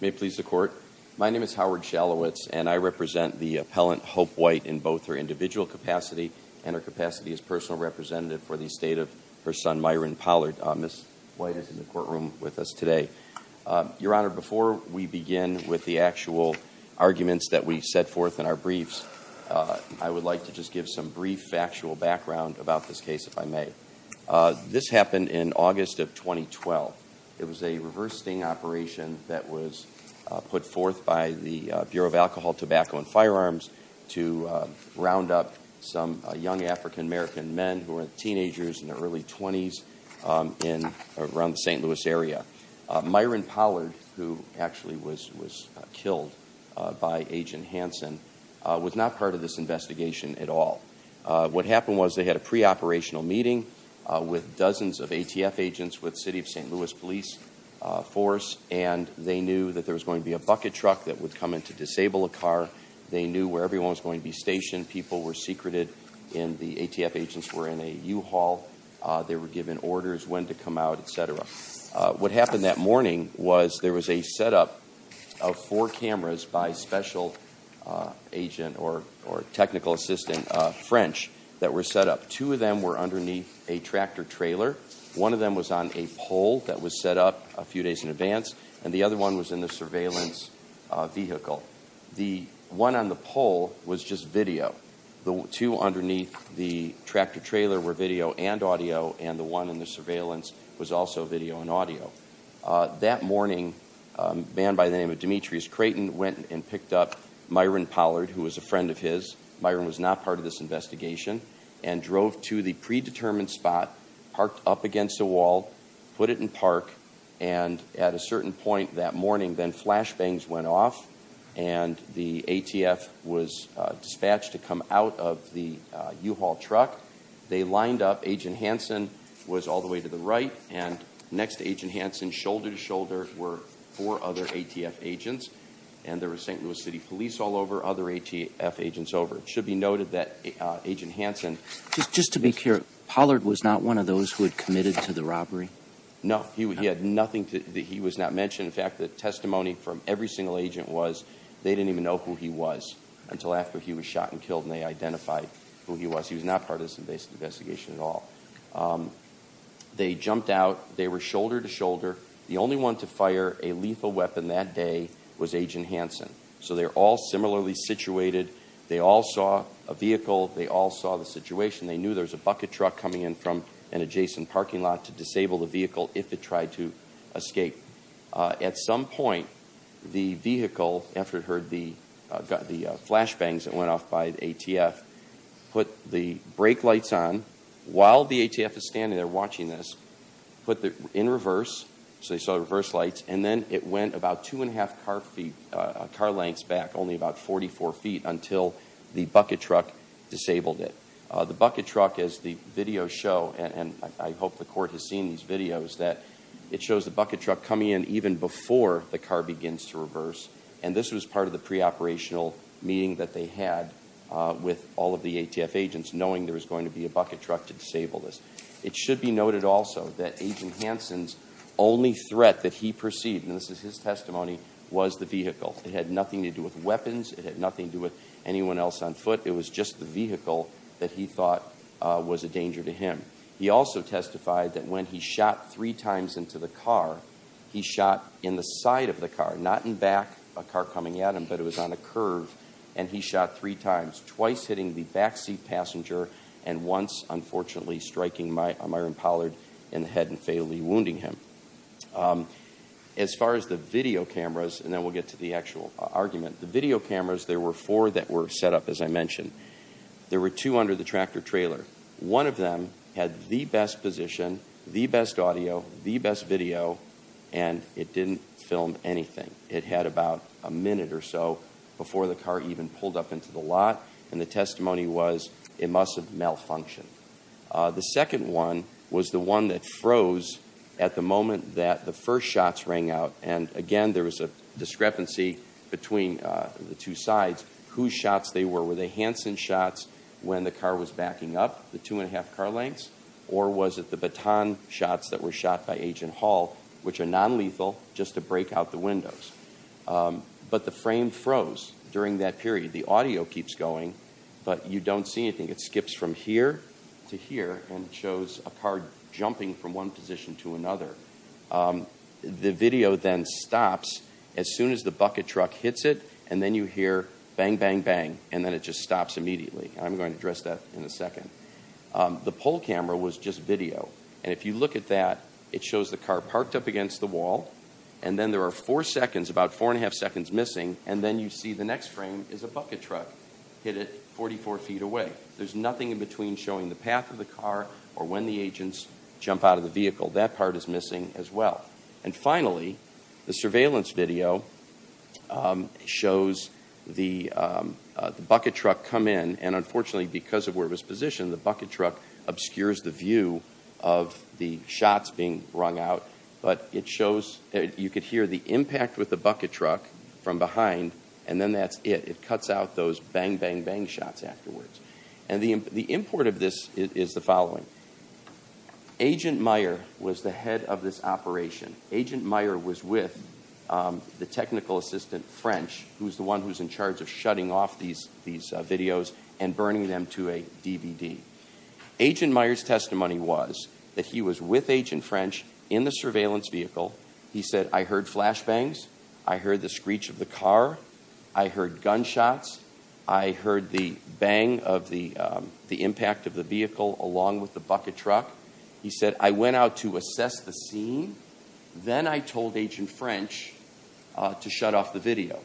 May it please the Court. My name is Howard Shalowitz and I represent the appellant Hope White in both her individual capacity and her capacity as personal representative for the estate of her son Myron Pollard. Ms. White is in the courtroom with us today. Your Honor, before we begin with the actual arguments that we set forth in our briefs, I would like to just give some brief factual background about this case if I may. This happened in August of 2012. It was a reverse sting operation that was put forth by the Bureau of Alcohol, Tobacco, and Firearms to round up some young African American men who were teenagers in their early 20s around the St. Louis area. Myron Pollard, who actually was killed by Agent Hansen, was not part of this investigation at all. What happened was they had a pre-operational meeting with dozens of ATF agents with City of St. Louis Police Force and they knew that there was going to be a bucket truck that they knew where everyone was going to be stationed, people were secreted, and the ATF agents were in a U-Haul. They were given orders when to come out, etc. What happened that morning was there was a setup of four cameras by special agent or technical assistant French that were set up. Two of them were underneath a tractor trailer. One of them was on a pole that was set up a few days in advance, and the other one was in the surveillance vehicle. The one on the pole was just video. The two underneath the tractor trailer were video and audio, and the one in the surveillance was also video and audio. That morning, a man by the name of Demetrius Creighton went and picked up Myron Pollard, who was a friend of his. Myron was not part of this investigation, and drove to the predetermined spot, parked up against a wall, put it in park, and at a certain point that morning, then flash bangs went off, and the ATF was dispatched to come out of the U-Haul truck. They lined up, Agent Hanson was all the way to the right, and next to Agent Hanson, shoulder to shoulder were four other ATF agents, and there was St. Louis City Police all over, other ATF agents over. It should be noted that Agent Hanson- Just to be clear, Pollard was not one of those who had committed to the robbery? No, he had nothing, he was not mentioned. In fact, the testimony from every single agent was, they didn't even know who he was until after he was shot and killed, and they identified who he was. He was not part of this investigation at all. They jumped out, they were shoulder to shoulder, the only one to fire a lethal weapon that day was Agent Hanson. So they're all similarly situated, they all saw a vehicle, they all saw the situation. They knew there was a bucket truck coming in from an adjacent parking lot to disable the vehicle if it tried to escape. At some point, the vehicle, after it heard the flash bangs that went off by the ATF, put the brake lights on while the ATF is standing there watching this, put them in reverse. So they saw the reverse lights, and then it went about two and a half car lengths back, only about 44 feet, until the bucket truck disabled it. The bucket truck, as the video show, and I hope the court has seen these videos, that it shows the bucket truck coming in even before the car begins to reverse. And this was part of the pre-operational meeting that they had with all of the ATF agents, knowing there was going to be a bucket truck to disable this. It should be noted also that Agent Hanson's only threat that he perceived, and this is his testimony, was the vehicle. It had nothing to do with weapons, it had nothing to do with anyone else on foot. It was just the vehicle that he thought was a danger to him. He also testified that when he shot three times into the car, he shot in the side of the car, not in back, a car coming at him, but it was on a curve. And he shot three times, twice hitting the backseat passenger, and once, unfortunately, striking Myron Pollard in the head and fatally wounding him. As far as the video cameras, and then we'll get to the actual argument. The video cameras, there were four that were set up, as I mentioned. There were two under the tractor trailer. One of them had the best position, the best audio, the best video, and it didn't film anything. It had about a minute or so before the car even pulled up into the lot, and the testimony was, it must have malfunctioned. The second one was the one that froze at the moment that the first shots rang out. And again, there was a discrepancy between the two sides, whose shots they were. Were they Hansen shots when the car was backing up, the two and a half car lengths? Or was it the baton shots that were shot by Agent Hall, which are non-lethal, just to break out the windows? But the frame froze during that period. The audio keeps going, but you don't see anything. It skips from here to here, and shows a car jumping from one position to another. The video then stops as soon as the bucket truck hits it, and then you hear bang, bang, bang, and then it just stops immediately. I'm going to address that in a second. The pole camera was just video, and if you look at that, it shows the car parked up against the wall. And then there are four seconds, about four and a half seconds missing, and then you see the next frame is a bucket truck hit it 44 feet away. There's nothing in between showing the path of the car, or when the agents jump out of the vehicle. That part is missing as well. And finally, the surveillance video shows the bucket truck come in. And unfortunately, because of where it was positioned, the bucket truck obscures the view of the shots being rung out. But it shows, you could hear the impact with the bucket truck from behind, and then that's it. It cuts out those bang, bang, bang shots afterwards. And the import of this is the following. Agent Meyer was the head of this operation. Agent Meyer was with the technical assistant French, who's the one who's in charge of shutting off these videos and burning them to a DVD. Agent Meyer's testimony was that he was with Agent French in the surveillance vehicle. He said, I heard flash bangs. I heard the screech of the car. I heard gunshots. I heard the bang of the impact of the vehicle along with the bucket truck. He said, I went out to assess the scene, then I told Agent French to shut off the video.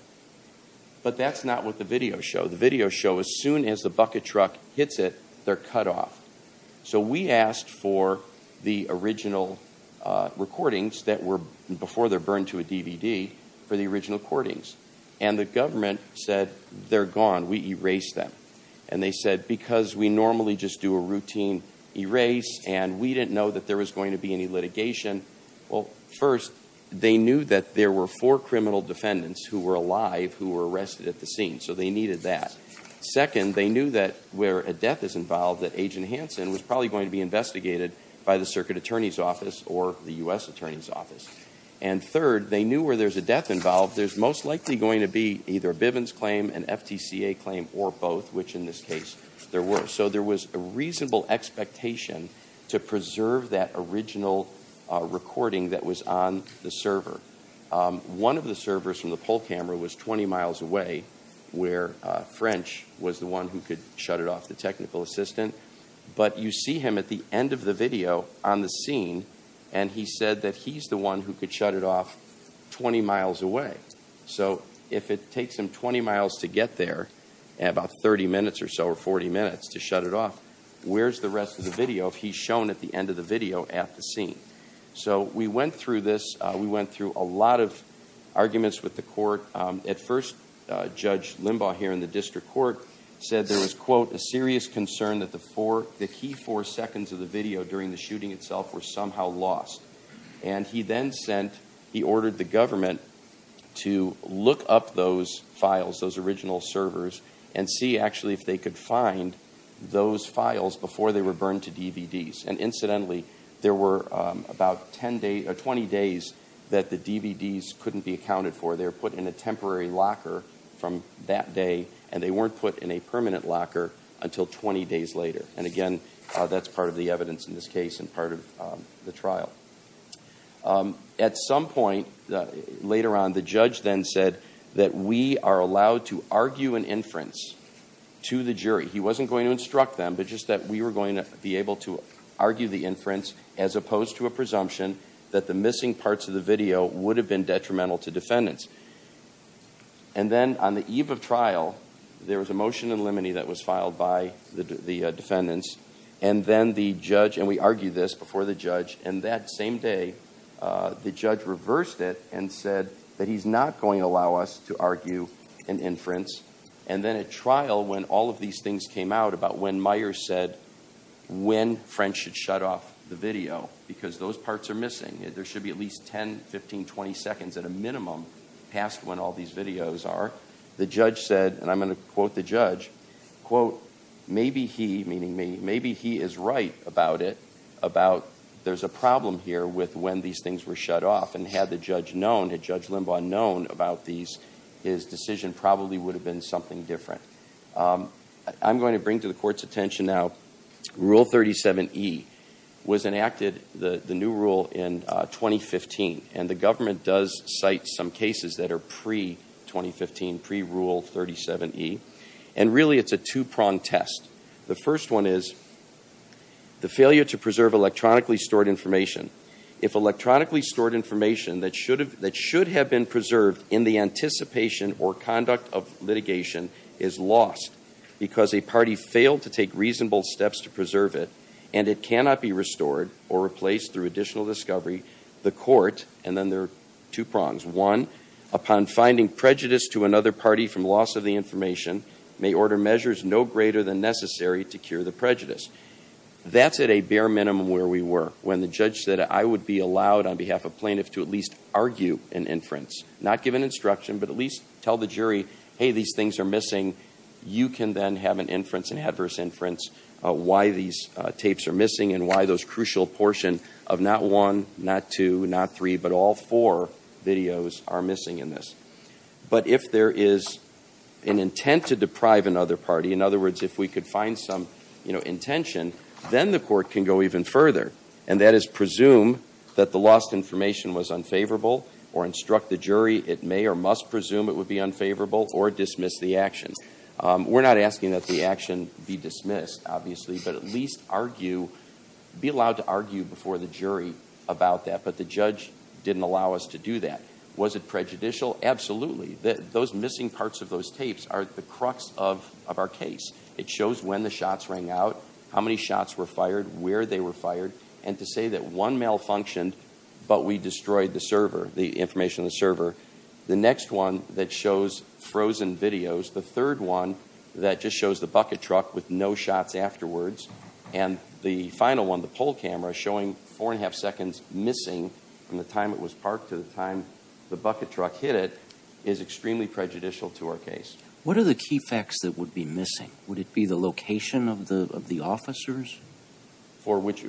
But that's not what the videos show. The videos show as soon as the bucket truck hits it, they're cut off. So we asked for the original recordings that were, before they're burned to a DVD, for the original recordings. And the government said, they're gone, we erased them. And they said, because we normally just do a routine erase, and we didn't know that there was going to be any litigation. Well, first, they knew that there were four criminal defendants who were alive who were arrested at the scene, so they needed that. Second, they knew that where a death is involved, that Agent Hanson was probably going to be investigated by the Circuit Attorney's Office or the US Attorney's Office. And third, they knew where there's a death involved, there's most likely going to be either a Bivens claim, an FTCA claim, or both, which in this case, there were. So there was a reasonable expectation to preserve that original recording that was on the server. One of the servers from the poll camera was 20 miles away, where French was the one who could shut it off, the technical assistant. But you see him at the end of the video on the scene, and he said that he's the one who could shut it off 20 miles away. So if it takes him 20 miles to get there, and about 30 minutes or so, or 40 minutes to shut it off, where's the rest of the video if he's shown at the end of the video at the scene? So we went through this, we went through a lot of arguments with the court. At first, Judge Limbaugh here in the district court said there was, quote, a serious concern that the key four seconds of the video during the shooting itself were somehow lost. And he then sent, he ordered the government to look up those files, those original servers, and see actually if they could find those files before they were burned to DVDs. And incidentally, there were about 20 days that the DVDs couldn't be accounted for. They were put in a temporary locker from that day, and they weren't put in a permanent locker until 20 days later. And again, that's part of the evidence in this case and part of the trial. At some point later on, the judge then said that we are allowed to argue an inference to the jury. He wasn't going to instruct them, but just that we were going to be able to argue the inference as opposed to a presumption that the missing parts of the video would have been detrimental to defendants. And then on the eve of trial, there was a motion in limine that was filed by the defendants. And then the judge, and we argued this before the judge, and that same day, the judge reversed it and said that he's not going to allow us to argue an inference. And then at trial, when all of these things came out about when Meyers said when French should shut off the video, because those parts are missing, there should be at least 10, 15, 20 seconds at a minimum past when all these videos are. The judge said, and I'm going to quote the judge, quote, maybe he, meaning me, maybe he is right about it, about there's a problem here with when these things were shut off. And had the judge known, had Judge Limbaugh known about these, his decision probably would have been something different. I'm going to bring to the court's attention now, rule 37E was enacted, the new rule, in 2015. And the government does cite some cases that are pre-2015, pre-rule 37E. And really, it's a two-pronged test. The first one is the failure to preserve electronically stored information. If electronically stored information that should have been preserved in the anticipation or conduct of litigation is lost because a party failed to take reasonable steps to preserve it, and it cannot be restored or replaced through additional discovery, the court, and then there are two prongs. One, upon finding prejudice to another party from loss of the information, may order measures no greater than necessary to cure the prejudice. That's at a bare minimum where we were, when the judge said, I would be allowed on behalf of plaintiffs to at least argue an inference. Not give an instruction, but at least tell the jury, hey, these things are missing. You can then have an inference, an adverse inference, why these tapes are missing and why those crucial portion of not one, not two, not three, but all four videos are missing in this. But if there is an intent to deprive another party, in other words, if we could find some intention, then the court can go even further. And that is presume that the lost information was unfavorable or instruct the jury. It may or must presume it would be unfavorable or dismiss the action. We're not asking that the action be dismissed, obviously, but at least argue. Be allowed to argue before the jury about that, but the judge didn't allow us to do that. Was it prejudicial? Absolutely, those missing parts of those tapes are the crux of our case. It shows when the shots rang out, how many shots were fired, where they were fired. And to say that one malfunctioned, but we destroyed the server, the information on the server. The next one that shows frozen videos, the third one that just shows the bucket truck with no shots afterwards. And the final one, the poll camera, showing four and a half seconds missing from the time it was parked to the time the bucket truck hit it, is extremely prejudicial to our case. What are the key facts that would be missing? Would it be the location of the officers? For which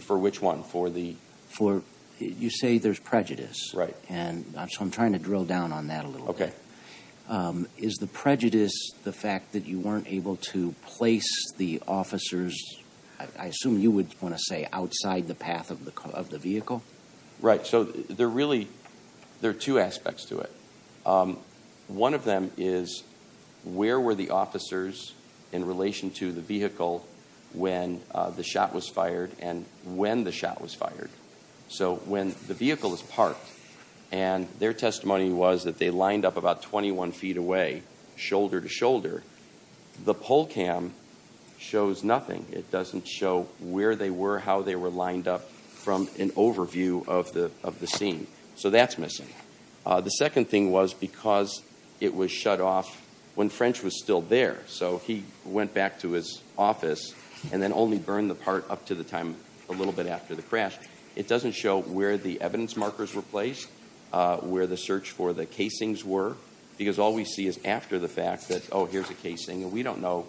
one, for the- For, you say there's prejudice. Right. And so I'm trying to drill down on that a little bit. Okay. Is the prejudice the fact that you weren't able to place the officers, I assume you would want to say, outside the path of the vehicle? Right, so there are two aspects to it. One of them is, where were the officers in relation to the vehicle when the shot was fired and when the shot was fired? So when the vehicle was parked, and their testimony was that they lined up about 21 feet away, shoulder to shoulder. The poll cam shows nothing. It doesn't show where they were, how they were lined up from an overview of the scene. So that's missing. The second thing was because it was shut off when French was still there. So he went back to his office and then only burned the part up to the time a little bit after the crash. It doesn't show where the evidence markers were placed, where the search for the casings were. Because all we see is after the fact that, here's a casing, and we don't know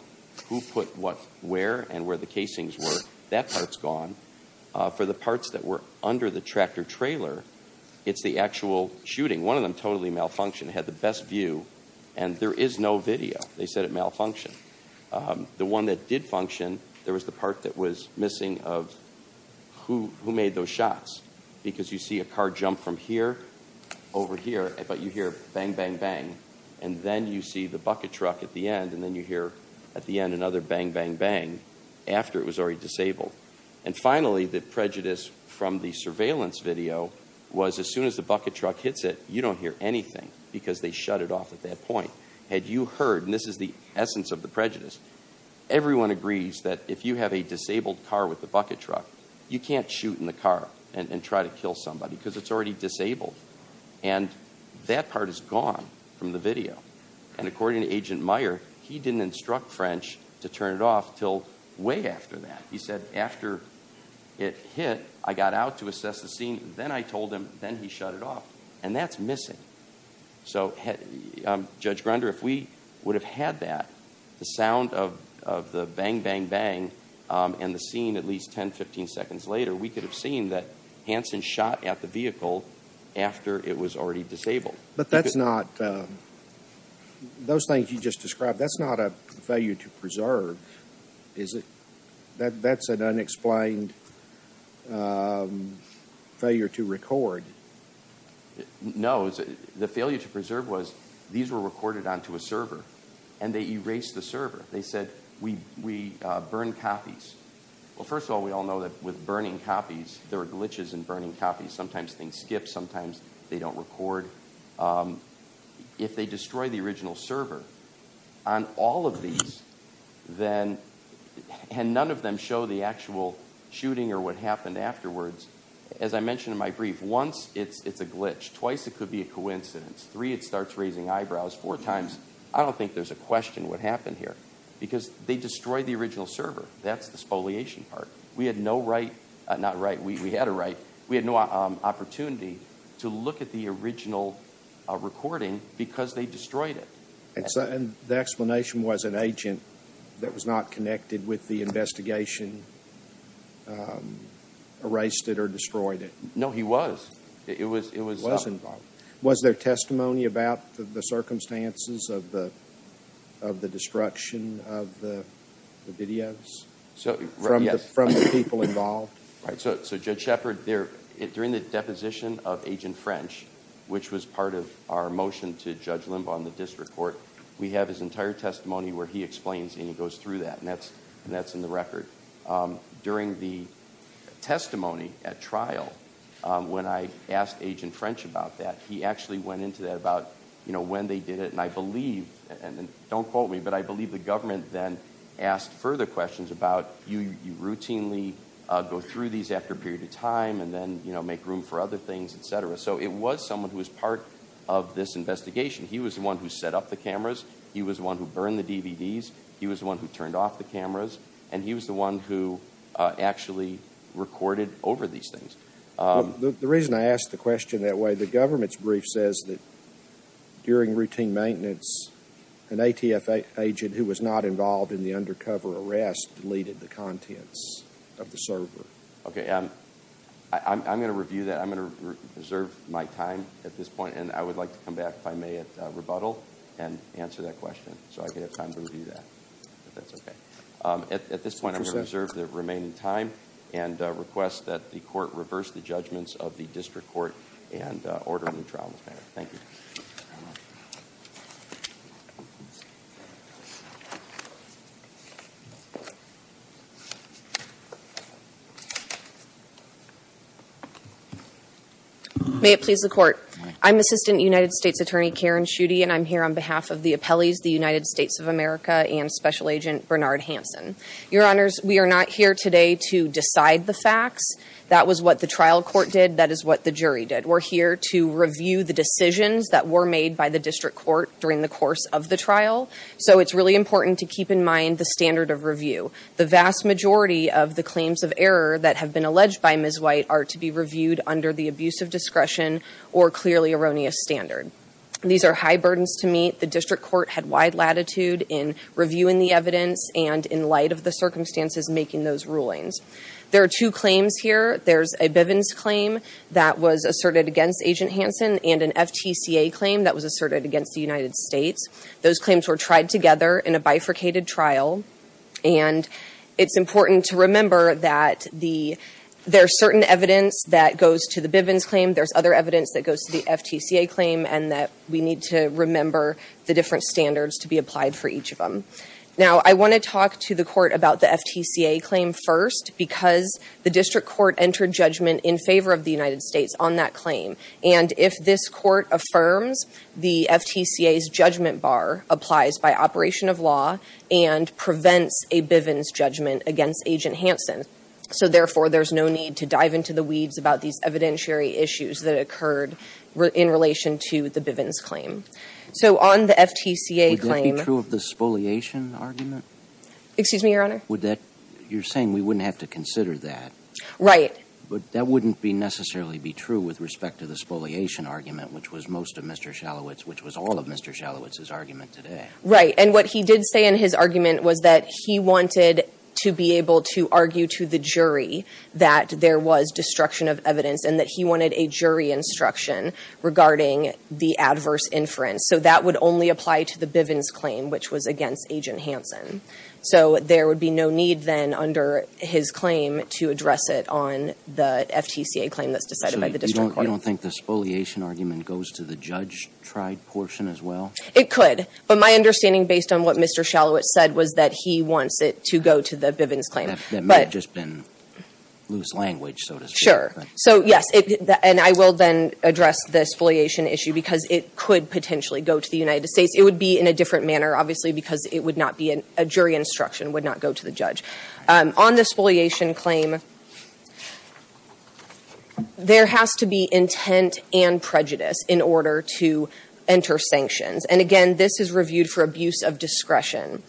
who put what where and where the casings were. That part's gone. For the parts that were under the tractor trailer, it's the actual shooting. One of them totally malfunctioned. It had the best view and there is no video. They said it malfunctioned. The one that did function, there was the part that was missing of who made those shots. Because you see a car jump from here over here, but you hear bang, bang, bang. And then you see the bucket truck at the end, and then you hear at the end another bang, bang, bang after it was already disabled. And finally, the prejudice from the surveillance video was as soon as the bucket truck hits it, you don't hear anything because they shut it off at that point. Had you heard, and this is the essence of the prejudice, everyone agrees that if you have a disabled car with a bucket truck, you can't shoot in the car and try to kill somebody because it's already disabled. And that part is gone from the video. And according to Agent Meyer, he didn't instruct French to turn it off until way after that. He said, after it hit, I got out to assess the scene, then I told him, then he shut it off. And that's missing. So, Judge Grunder, if we would have had that, the sound of the bang, bang, bang, and the scene at least 10, 15 seconds later, we could have seen that Hansen shot at the vehicle after it was already disabled. But that's not, those things you just described, that's not a failure to preserve, that's an unexplained failure to record. No, the failure to preserve was, these were recorded onto a server, and they erased the server. They said, we burned copies. Well, first of all, we all know that with burning copies, there are glitches in burning copies. Sometimes things skip, sometimes they don't record. If they destroy the original server on all of these, then, and none of them show the actual shooting or what happened afterwards. As I mentioned in my brief, once it's a glitch, twice it could be a coincidence, three, it starts raising eyebrows, four times. I don't think there's a question what happened here, because they destroyed the original server. That's the spoliation part. We had no right, not right, we had a right. We had no opportunity to look at the original recording because they destroyed it. The explanation was an agent that was not connected with the investigation erased it or destroyed it. No, he was. It was involved. Was there testimony about the circumstances of the destruction of the videos from the people involved? Right, so Judge Shepard, during the deposition of Agent French, which was part of our motion to Judge Limbaugh in the district court, we have his entire testimony where he explains and he goes through that, and that's in the record. During the testimony at trial, when I asked Agent French about that, he actually went into that about when they did it, and I believe, and don't quote me, but I believe the government then asked further questions about, you routinely go through these after a period of time, and then make room for other things, etc. So it was someone who was part of this investigation. He was the one who set up the cameras. He was the one who burned the DVDs. He was the one who turned off the cameras. And he was the one who actually recorded over these things. The reason I ask the question that way, the government's brief says that during routine maintenance, an ATF agent who was not involved in the undercover arrest deleted the contents of the server. Okay, I'm going to review that. I'm going to reserve my time at this point, and I would like to come back if I may at rebuttal and answer that question. So I could have time to review that, if that's okay. At this point, I'm going to reserve the remaining time and request that the court reverse the judgments of the district court and order a new trial in this matter. Thank you. May it please the court. I'm Assistant United States Attorney Karen Schutte, and I'm here on behalf of the appellees, the United States of America, and Special Agent Bernard Hanson. Your honors, we are not here today to decide the facts. That was what the trial court did. That is what the jury did. We're here to review the decisions that were made by the district court during the course of the trial. So it's really important to keep in mind the standard of review. The vast majority of the claims of error that have been alleged by Ms. White are to be reviewed under the abuse of discretion or clearly erroneous standard. These are high burdens to meet. The district court had wide latitude in reviewing the evidence and in light of the circumstances making those rulings. There are two claims here. There's a Bivens claim that was asserted against Agent Hanson and an FTCA claim that was asserted against the United States. Those claims were tried together in a bifurcated trial, and it's important to remember that there's certain evidence that goes to the Bivens claim. There's other evidence that goes to the FTCA claim, and that we need to remember the different standards to be applied for each of them. Now, I want to talk to the court about the FTCA claim first, because the district court entered judgment in favor of the United States on that claim. And if this court affirms, the FTCA's judgment bar applies by operation of law and prevents a Bivens judgment against Agent Hanson. So therefore, there's no need to dive into the weeds about these evidentiary issues that occurred in relation to the Bivens claim. So on the FTCA claim- Would that be true of the spoliation argument? Excuse me, your honor? Would that, you're saying we wouldn't have to consider that. Right. But that wouldn't necessarily be true with respect to the spoliation argument, which was most of Mr. Shalowitz, which was all of Mr. Shalowitz's argument today. Right, and what he did say in his argument was that he wanted to be able to argue to the jury that there was destruction of evidence, and that he wanted a jury instruction regarding the adverse inference. So that would only apply to the Bivens claim, which was against Agent Hanson. So there would be no need then under his claim to address it on the FTCA claim that's decided by the district court. So you don't think the spoliation argument goes to the judge-tried portion as well? It could, but my understanding based on what Mr. Shalowitz said was that he wants it to go to the Bivens claim. That might have just been loose language, so to speak. Sure, so yes, and I will then address the spoliation issue because it could potentially go to the United States. It would be in a different manner, obviously, because it would not be a jury instruction, would not go to the judge. On the spoliation claim, there has to be intent and prejudice in order to enter sanctions. And again, this is reviewed for abuse of discretion.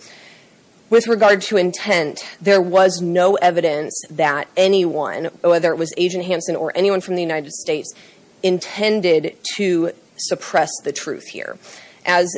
With regard to intent, there was no evidence that anyone, whether it was Agent Hanson or anyone from the United States, intended to suppress the truth here. As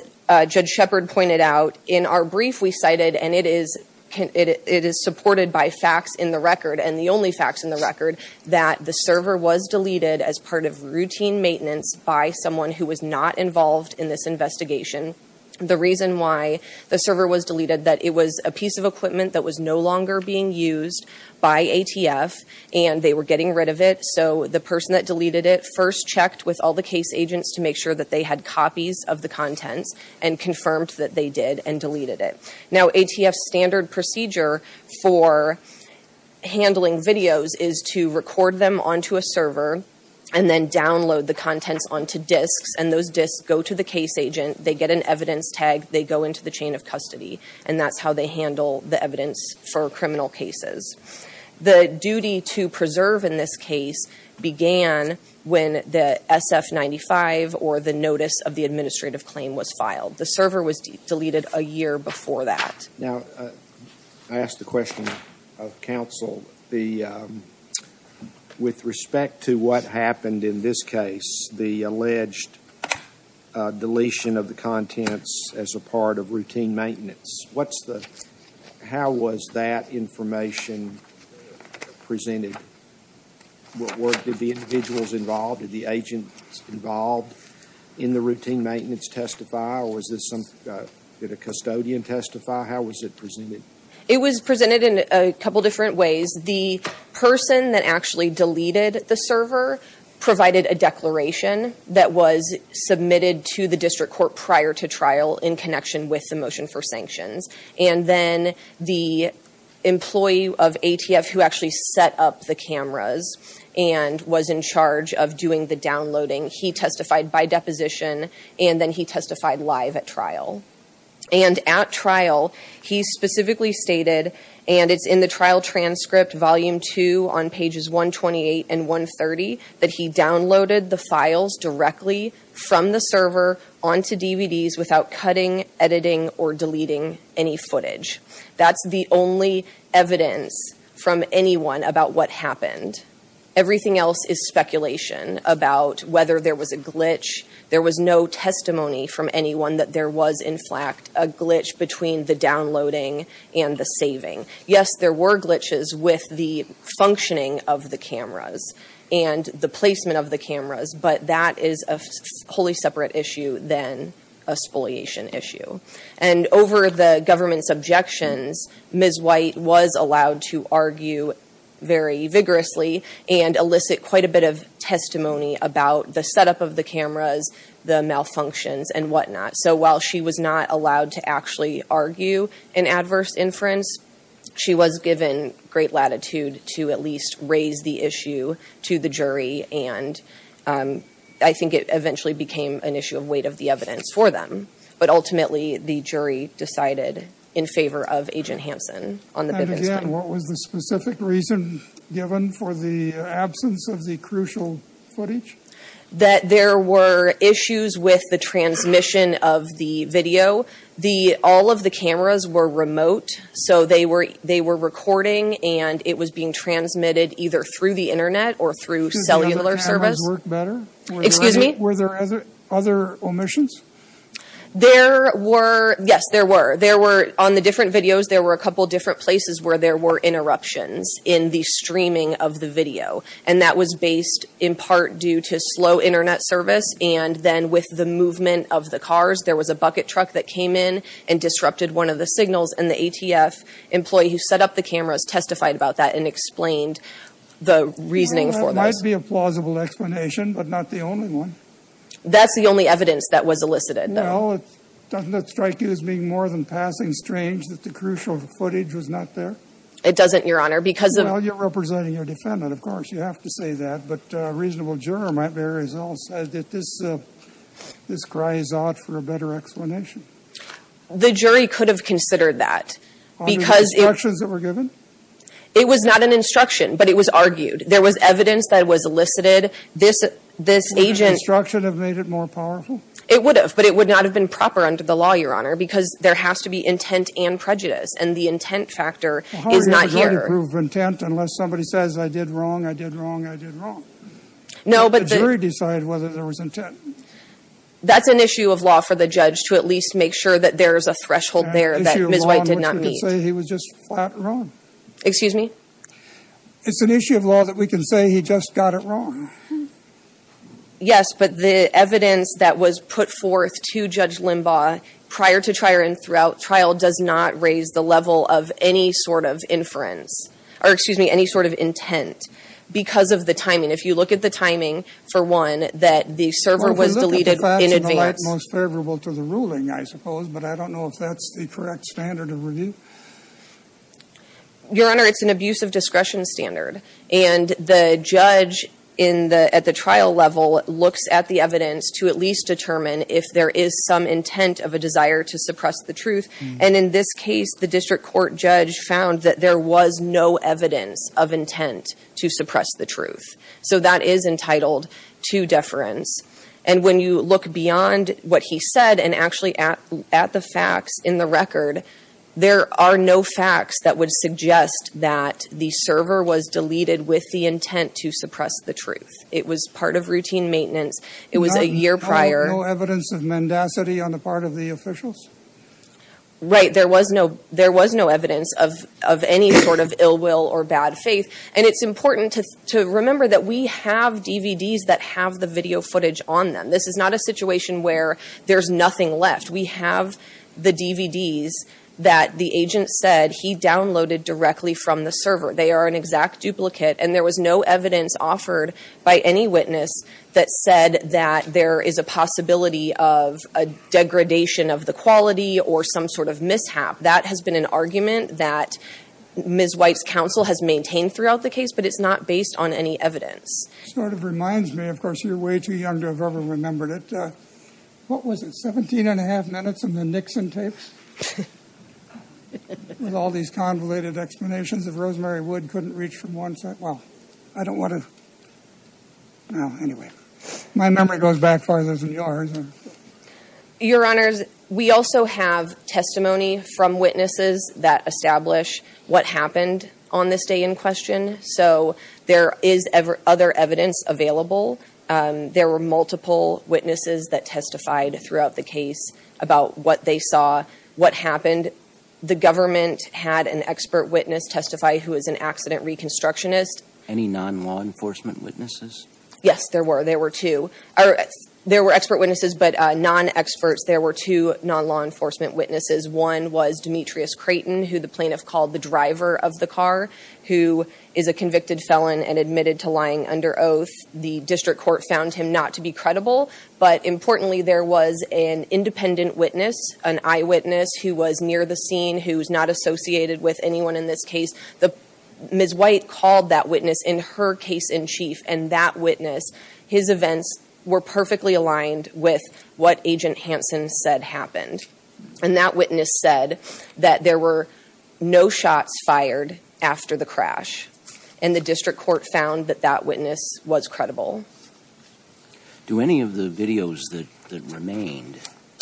Judge Shepard pointed out, in our brief we cited, and it is supported by facts in the record, and the only facts in the record, that the server was deleted as part of routine maintenance by someone who was not involved in this investigation. The reason why the server was deleted, that it was a piece of equipment that was no longer being used by ATF, and they were getting rid of it. So the person that deleted it first checked with all the case agents to make sure that they had copies of the contents, and confirmed that they did and deleted it. Now, ATF's standard procedure for handling videos is to record them onto a server, and then download the contents onto disks, and those disks go to the case agent, they get an evidence tag, they go into the chain of custody. And that's how they handle the evidence for criminal cases. The duty to preserve in this case began when the SF-95, or the notice of the administrative claim, was filed. The server was deleted a year before that. Now, I ask the question of counsel, with respect to what happened in this case, the alleged deletion of the contents as a part of routine maintenance, what's the, how was that information presented? Were, did the individuals involved, did the agents involved in the routine maintenance testify, or was this some, did a custodian testify? How was it presented? It was presented in a couple different ways. The person that actually deleted the server provided a declaration that was submitted to the district court prior to trial in connection with the motion for sanctions. And then the employee of ATF who actually set up the cameras and was in charge of doing the downloading, he testified by deposition, and then he testified live at trial. And at trial, he specifically stated, and it's in the trial transcript, volume two on pages 128 and 130, that he downloaded the files directly from the server onto DVDs without cutting, editing, or deleting any footage. That's the only evidence from anyone about what happened. Everything else is speculation about whether there was a glitch. There was no testimony from anyone that there was, in fact, a glitch between the downloading and the saving. Yes, there were glitches with the functioning of the cameras and the placement of the cameras. But that is a wholly separate issue than a spoliation issue. And over the government's objections, Ms. White was allowed to argue very vigorously and elicit quite a bit of testimony about the setup of the cameras, the malfunctions, and whatnot. So while she was not allowed to actually argue an adverse inference, she was given great latitude to at least raise the issue to the jury. And I think it eventually became an issue of weight of the evidence for them. But ultimately, the jury decided in favor of Agent Hansen on the- And again, what was the specific reason given for the absence of the crucial footage? That there were issues with the transmission of the video. All of the cameras were remote, so they were recording and it was being transmitted either through the Internet or through cellular service. Excuse me? Were there other omissions? There were, yes, there were. There were, on the different videos, there were a couple different places where there were interruptions in the streaming of the video. And that was based in part due to slow Internet service, and then with the movement of the cars, there was a bucket truck that came in and disrupted one of the signals. And the ATF employee who set up the cameras testified about that and explained the reasoning for this. Well, that might be a plausible explanation, but not the only one. That's the only evidence that was elicited, though. Well, doesn't that strike you as being more than passing strange that the crucial footage was not there? It doesn't, Your Honor, because of- Well, you're representing your defendant, of course, you have to say that. But a reasonable juror might bear results that this cries out for a better explanation. The jury could have considered that, because- Under the instructions that were given? It was not an instruction, but it was argued. There was evidence that was elicited. This agent- Would an instruction have made it more powerful? It would have, but it would not have been proper under the law, Your Honor, because there has to be intent and prejudice. And the intent factor is not here. There's no proof of intent unless somebody says, I did wrong, I did wrong, I did wrong. No, but the- The jury decided whether there was intent. That's an issue of law for the judge to at least make sure that there's a threshold there that Ms. White did not meet. An issue of law in which we can say he was just flat wrong. Excuse me? It's an issue of law that we can say he just got it wrong. Yes, but the evidence that was put forth to Judge Limbaugh prior to trial and throughout trial does not raise the level of any sort of inference. Or, excuse me, any sort of intent. Because of the timing. If you look at the timing, for one, that the server was deleted in advance- Well, the look of the facts in the light most favorable to the ruling, I suppose. But I don't know if that's the correct standard of review. Your Honor, it's an abuse of discretion standard. And the judge at the trial level looks at the evidence to at least determine if there is some intent of a desire to suppress the truth. And in this case, the district court judge found that there was no evidence of intent to suppress the truth. So that is entitled to deference. And when you look beyond what he said and actually at the facts in the record, there are no facts that would suggest that the server was deleted with the intent to suppress the truth. It was part of routine maintenance. It was a year prior- There was no evidence of mendacity on the part of the officials? Right. There was no evidence of any sort of ill will or bad faith. And it's important to remember that we have DVDs that have the video footage on them. This is not a situation where there's nothing left. We have the DVDs that the agent said he downloaded directly from the server. They are an exact duplicate. And there was no evidence offered by any witness that said that there is a possibility of a degradation of the quality or some sort of mishap. That has been an argument that Ms. White's counsel has maintained throughout the case, but it's not based on any evidence. Sort of reminds me, of course, you're way too young to have ever remembered it. What was it, 17 and a half minutes in the Nixon tapes? With all these convoluted explanations of Rosemary Wood couldn't reach from one side. Well, I don't want to- Well, anyway. My memory goes back farther than yours. Your Honors, we also have testimony from witnesses that establish what happened on this day in question. So there is other evidence available. There were multiple witnesses that testified throughout the case about what they saw, what happened. The government had an expert witness testify who is an accident reconstructionist. Any non-law enforcement witnesses? Yes, there were. There were two. There were expert witnesses, but non-experts. There were two non-law enforcement witnesses. One was Demetrius Creighton, who the plaintiff called the driver of the car, who is a convicted felon and admitted to lying under oath. The district court found him not to be credible. But importantly, there was an independent witness, an eyewitness, who was near the scene, who's not associated with anyone in this case. Ms. White called that witness in her case in chief. And that witness, his events were perfectly aligned with what Agent Hansen said happened. And that witness said that there were no shots fired after the crash. And the district court found that that witness was credible. Do any of the videos that remained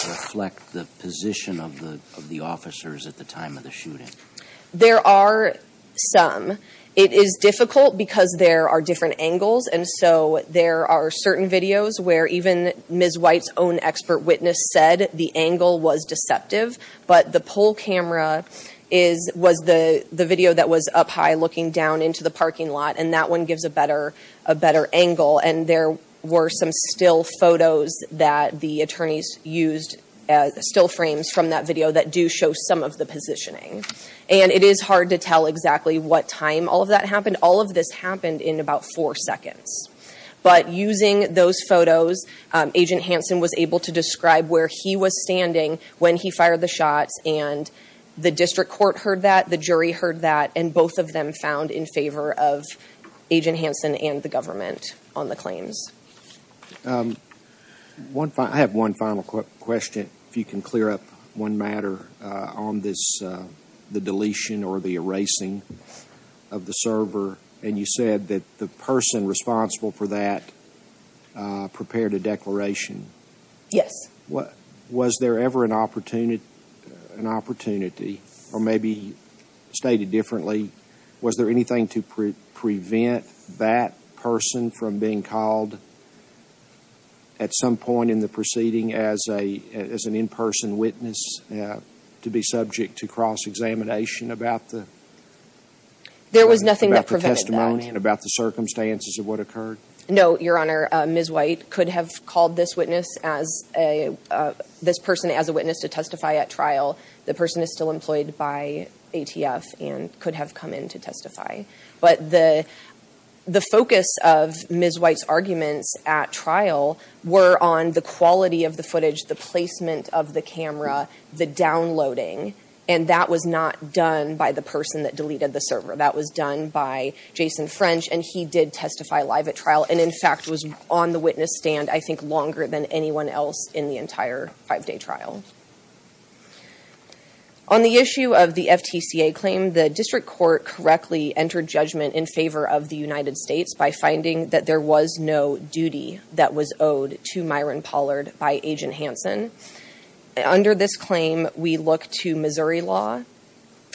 reflect the position of the officers at the time of the shooting? There are some. It is difficult because there are different angles. And so there are certain videos where even Ms. White's own expert witness said the angle was deceptive. But the poll camera was the video that was up high looking down into the parking lot. And that one gives a better angle. And there were some still photos that the attorneys used, still frames from that video, that do show some of the positioning. And it is hard to tell exactly what time all of that happened. All of this happened in about four seconds. But using those photos, Agent Hansen was able to describe where he was standing when he fired the shots. And the district court heard that. The jury heard that. And both of them found in favor of Agent Hansen and the government on the claims. I have one final question if you can clear up one matter on the deletion or the erasing of the server. And you said that the person responsible for that prepared a declaration. Yes. Was there ever an opportunity, or maybe stated differently, was there anything to prevent that person from being called at some point in the proceeding as an in-person witness to be subject to cross-examination about the testimony and about the circumstances of what occurred? No, Your Honor. Ms. White could have called this person as a witness to testify at trial. The person is still employed by ATF and could have come in to testify. But the focus of Ms. White's arguments at trial were on the quality of the footage, the placement of the camera, the downloading. And that was not done by the person that deleted the server. That was done by Jason French. And he did testify live at trial and, in fact, was on the witness stand, I think, longer than anyone else in the entire five-day trial. On the issue of the FTCA claim, the district court correctly entered judgment in favor of the United States by finding that there was no duty that was owed to Myron Pollard by Agent Hansen. Under this claim, we look to Missouri law.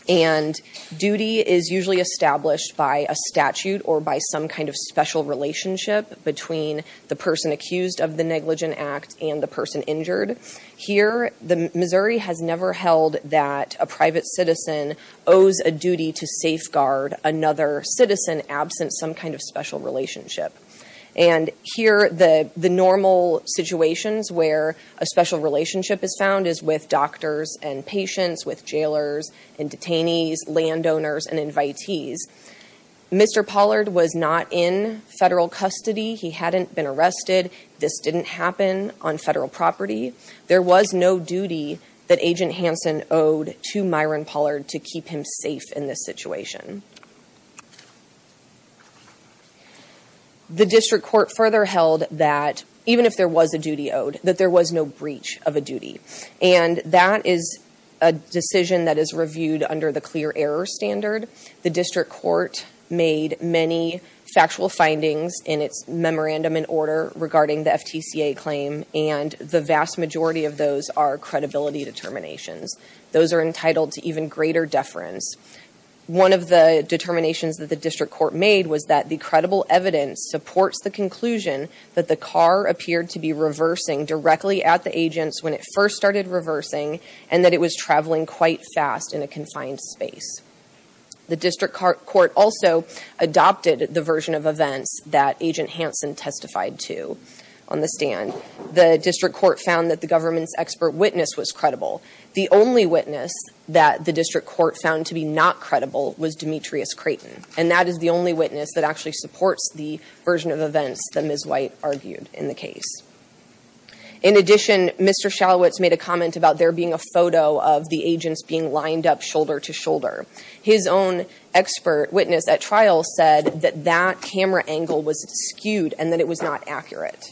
And duty is usually established by a statute or by some kind of special relationship between the person accused of the negligent act and the person injured. Here, Missouri has never held that a private citizen owes a duty to safeguard another citizen absent some kind of special relationship. And here, the normal situations where a special relationship is found is with doctors and patients, with jailers and detainees, landowners and invitees. Mr. Pollard was not in federal custody. He hadn't been arrested. This didn't happen on federal property. There was no duty that Agent Hansen owed to Myron Pollard to keep him safe in this situation. The district court further held that even if there was a duty owed, that there was no breach of a duty. And that is a decision that is reviewed under the clear error standard. The district court made many factual findings in its memorandum in order regarding the FTCA claim. And the vast majority of those are credibility determinations. Those are entitled to even greater deference. One of the determinations that the district court made was that the credible evidence supports the conclusion that the car appeared to be reversing directly at the agents when it first started reversing and that it was traveling quite fast in a confined space. The district court also adopted the version of events that Agent Hansen testified to on the stand. The district court found that the government's expert witness was credible. The only witness that the district court found to be not credible was Demetrius Creighton. And that is the only witness that actually supports the version of events that Ms. White argued in the case. In addition, Mr. Shalowitz made a comment about there being a photo of the agents being lined up shoulder to shoulder. His own expert witness at trial said that that camera angle was skewed and that it was not accurate.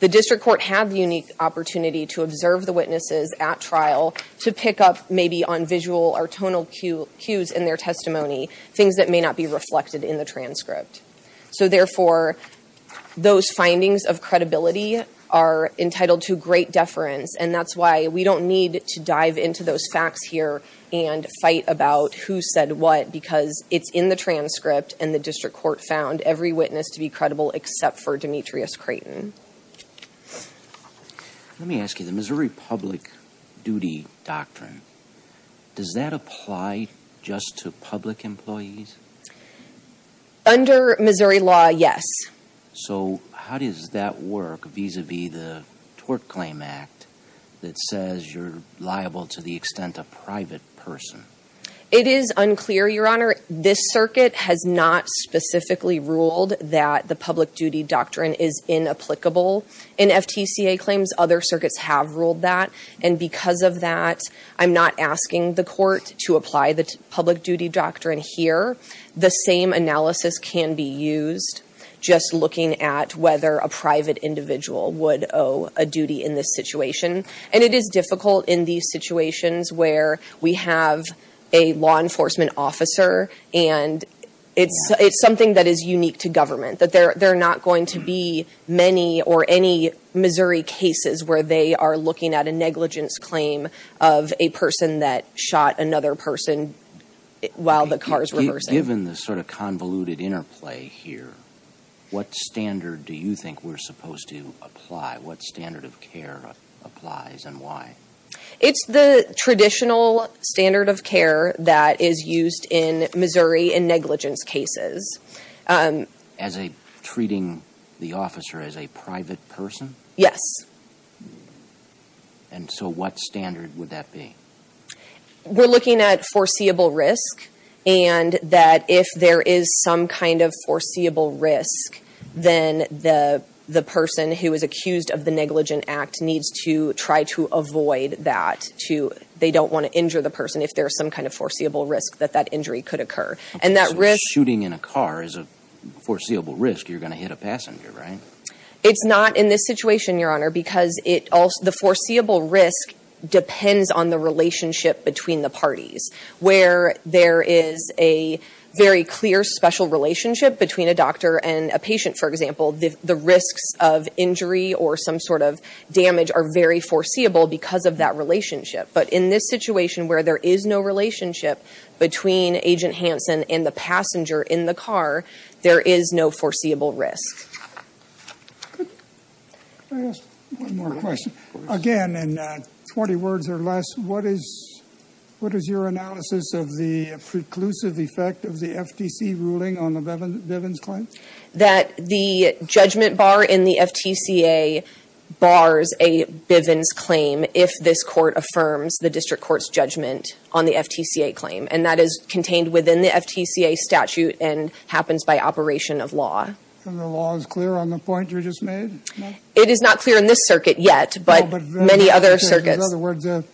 The district court had the unique opportunity to observe the witnesses at trial to pick up maybe on visual or tonal cues in their testimony, things that may not be reflected in the transcript. So therefore, those findings of credibility are entitled to great deference. And that's why we don't need to dive into those facts here and fight about who said what because it's in the transcript and the district court found every witness to be credible except for Demetrius Creighton. Let me ask you, the Missouri Public Duty Doctrine, does that apply just to public employees? Under Missouri law, yes. So how does that work vis-a-vis the Tort Claim Act that says you're liable to the extent of private person? It is unclear, Your Honor. This circuit has not specifically ruled that the public duty doctrine is inapplicable. In FTCA claims, other circuits have ruled that. And because of that, I'm not asking the court to apply the public duty doctrine here. The same analysis can be used just looking at whether a private individual would owe a duty in this situation. And it is difficult in these situations where we have a law enforcement officer and it's something that is unique to government, that there are not going to be many or any Missouri cases where they are looking at a negligence claim of a person that shot another person while the car is reversing. Given the sort of convoluted interplay here, what standard do you think we're supposed to apply? What standard of care applies and why? It's the traditional standard of care that is used in Missouri in negligence cases. As treating the officer as a private person? Yes. And so what standard would that be? We're looking at foreseeable risk and that if there is some kind of foreseeable risk, then the person who is accused of the negligent act needs to try to avoid that. They don't want to injure the person if there is some kind of foreseeable risk that that injury could occur. So shooting in a car is a foreseeable risk. You're going to hit a passenger, right? It's not in this situation, Your Honor, because the foreseeable risk depends on the relationship between the parties. Where there is a very clear special relationship between a doctor and a patient, for example, the risks of injury or some sort of damage are very foreseeable because of that relationship. But in this situation where there is no relationship between Agent Hansen and the passenger in the car, there is no foreseeable risk. Could I ask one more question? Again, in 20 words or less, what is your analysis of the preclusive effect of the FTC ruling on the Bivens claim? That the judgment bar in the FTCA bars a Bivens claim if this court affirms the district court's judgment on the FTCA claim. And that is contained within the FTCA statute and happens by operation of law. And the law is clear on the point you just made? It is not clear in this circuit yet, but many other circuits. In other words, it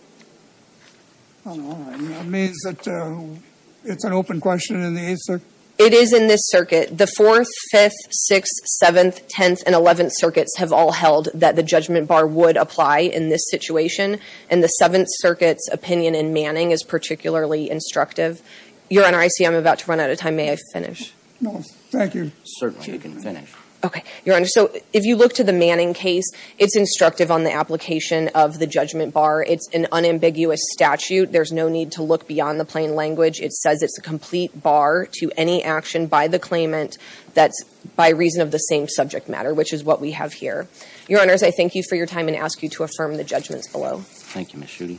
means that it's an open question in the 8th Circuit? It is in this circuit. The 4th, 5th, 6th, 7th, 10th, and 11th circuits have all held that the judgment bar would apply in this situation. And the 7th Circuit's opinion in Manning is particularly instructive. Your Honor, I see I'm about to run out of time. May I finish? No, thank you. Certainly, you can finish. Okay. Your Honor, so if you look to the Manning case, it's instructive on the application of the judgment bar. It's an unambiguous statute. There's no need to look beyond the plain language. It says it's a complete bar to any action by the claimant that's by reason of the same subject matter, which is what we have here. Your Honors, I thank you for your time and ask you to affirm the judgments below. Thank you, Ms. Schutte.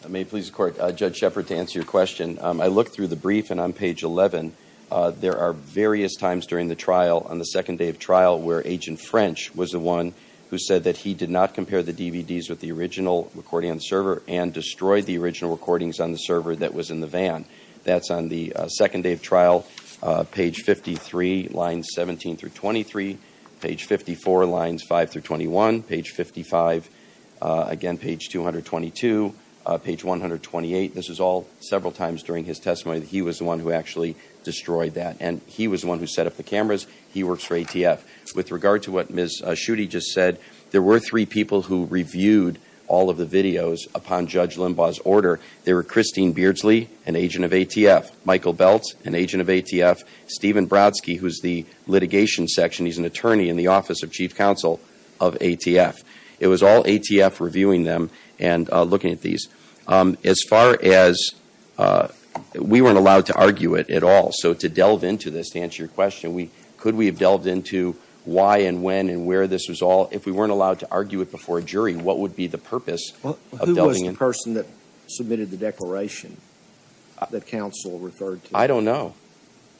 If I may please the Court, Judge Shepard, to answer your question, I looked through the brief, and on page 11, there are various times during the trial, on the second day of trial, where Agent French was the one who said that he did not compare the DVDs with the original recording on the server and destroyed the original recordings on the server that was in the van. That's on the second day of trial, page 53, lines 17 through 23, page 54, lines 5 through 21, page 55, again page 222, page 128. This was all several times during his testimony that he was the one who actually destroyed that, and he was the one who set up the cameras. He works for ATF. With regard to what Ms. Schutte just said, there were three people who reviewed all of the videos upon Judge Limbaugh's order. There were Christine Beardsley, an agent of ATF, Michael Beltz, an agent of ATF, Stephen Brodsky, who is the litigation section. He's an attorney in the Office of Chief Counsel of ATF. It was all ATF reviewing them and looking at these. As far as we weren't allowed to argue it at all, so to delve into this, to answer your question, could we have delved into why and when and where this was all? If we weren't allowed to argue it before a jury, what would be the purpose of delving in? Who was the person that submitted the declaration that counsel referred to? I don't know.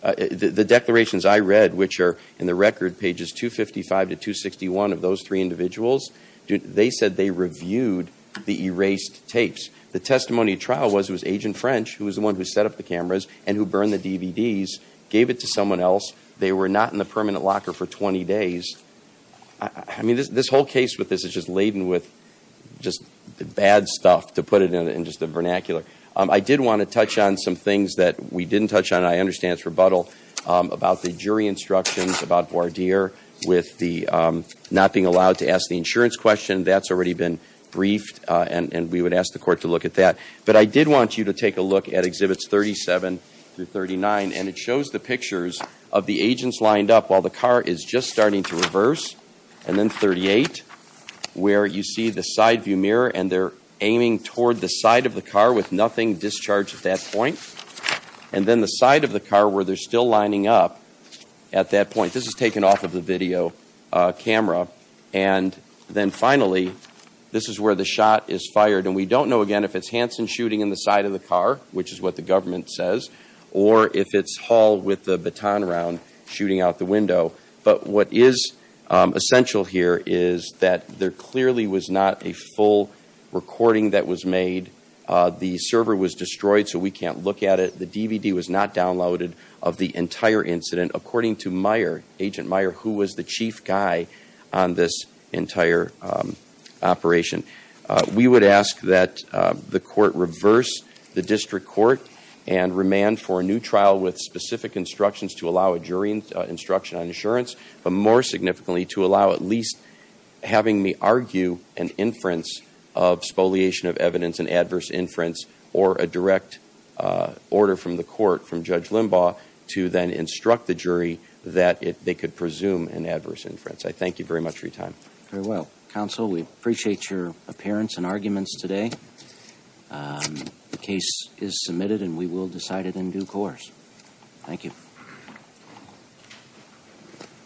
The declarations I read, which are in the record, pages 255 to 261 of those three individuals, they said they reviewed the erased tapes. The testimony trial was it was Agent French, who was the one who set up the cameras and who burned the DVDs, gave it to someone else. They were not in the permanent locker for 20 days. I mean, this whole case with this is just laden with just bad stuff, to put it in just the vernacular. I did want to touch on some things that we didn't touch on, and I understand it's rebuttal, about the jury instructions about Vardier with the not being allowed to ask the insurance question. That's already been briefed, and we would ask the court to look at that. But I did want you to take a look at Exhibits 37 through 39, and it shows the pictures of the agents lined up while the car is just starting to reverse, and then 38, where you see the side view mirror, and they're aiming toward the side of the car with nothing discharged at that point. And then the side of the car where they're still lining up at that point. This is taken off of the video camera. And then finally, this is where the shot is fired. And we don't know, again, if it's Hanson shooting in the side of the car, which is what the government says, or if it's Hall with the baton around shooting out the window. But what is essential here is that there clearly was not a full recording that was made. The server was destroyed, so we can't look at it. The DVD was not downloaded of the entire incident. According to Meyer, Agent Meyer, who was the chief guy on this entire operation, we would ask that the court reverse the district court and remand for a new trial with specific instructions to allow a jury instruction on insurance, but more significantly to allow at least having me argue an inference of spoliation of evidence, an adverse inference, or a direct order from the court, from Judge Limbaugh, to then instruct the jury that they could presume an adverse inference. I thank you very much for your time. Very well. Counsel, we appreciate your appearance and arguments today. The case is submitted and we will decide it in due course. Thank you.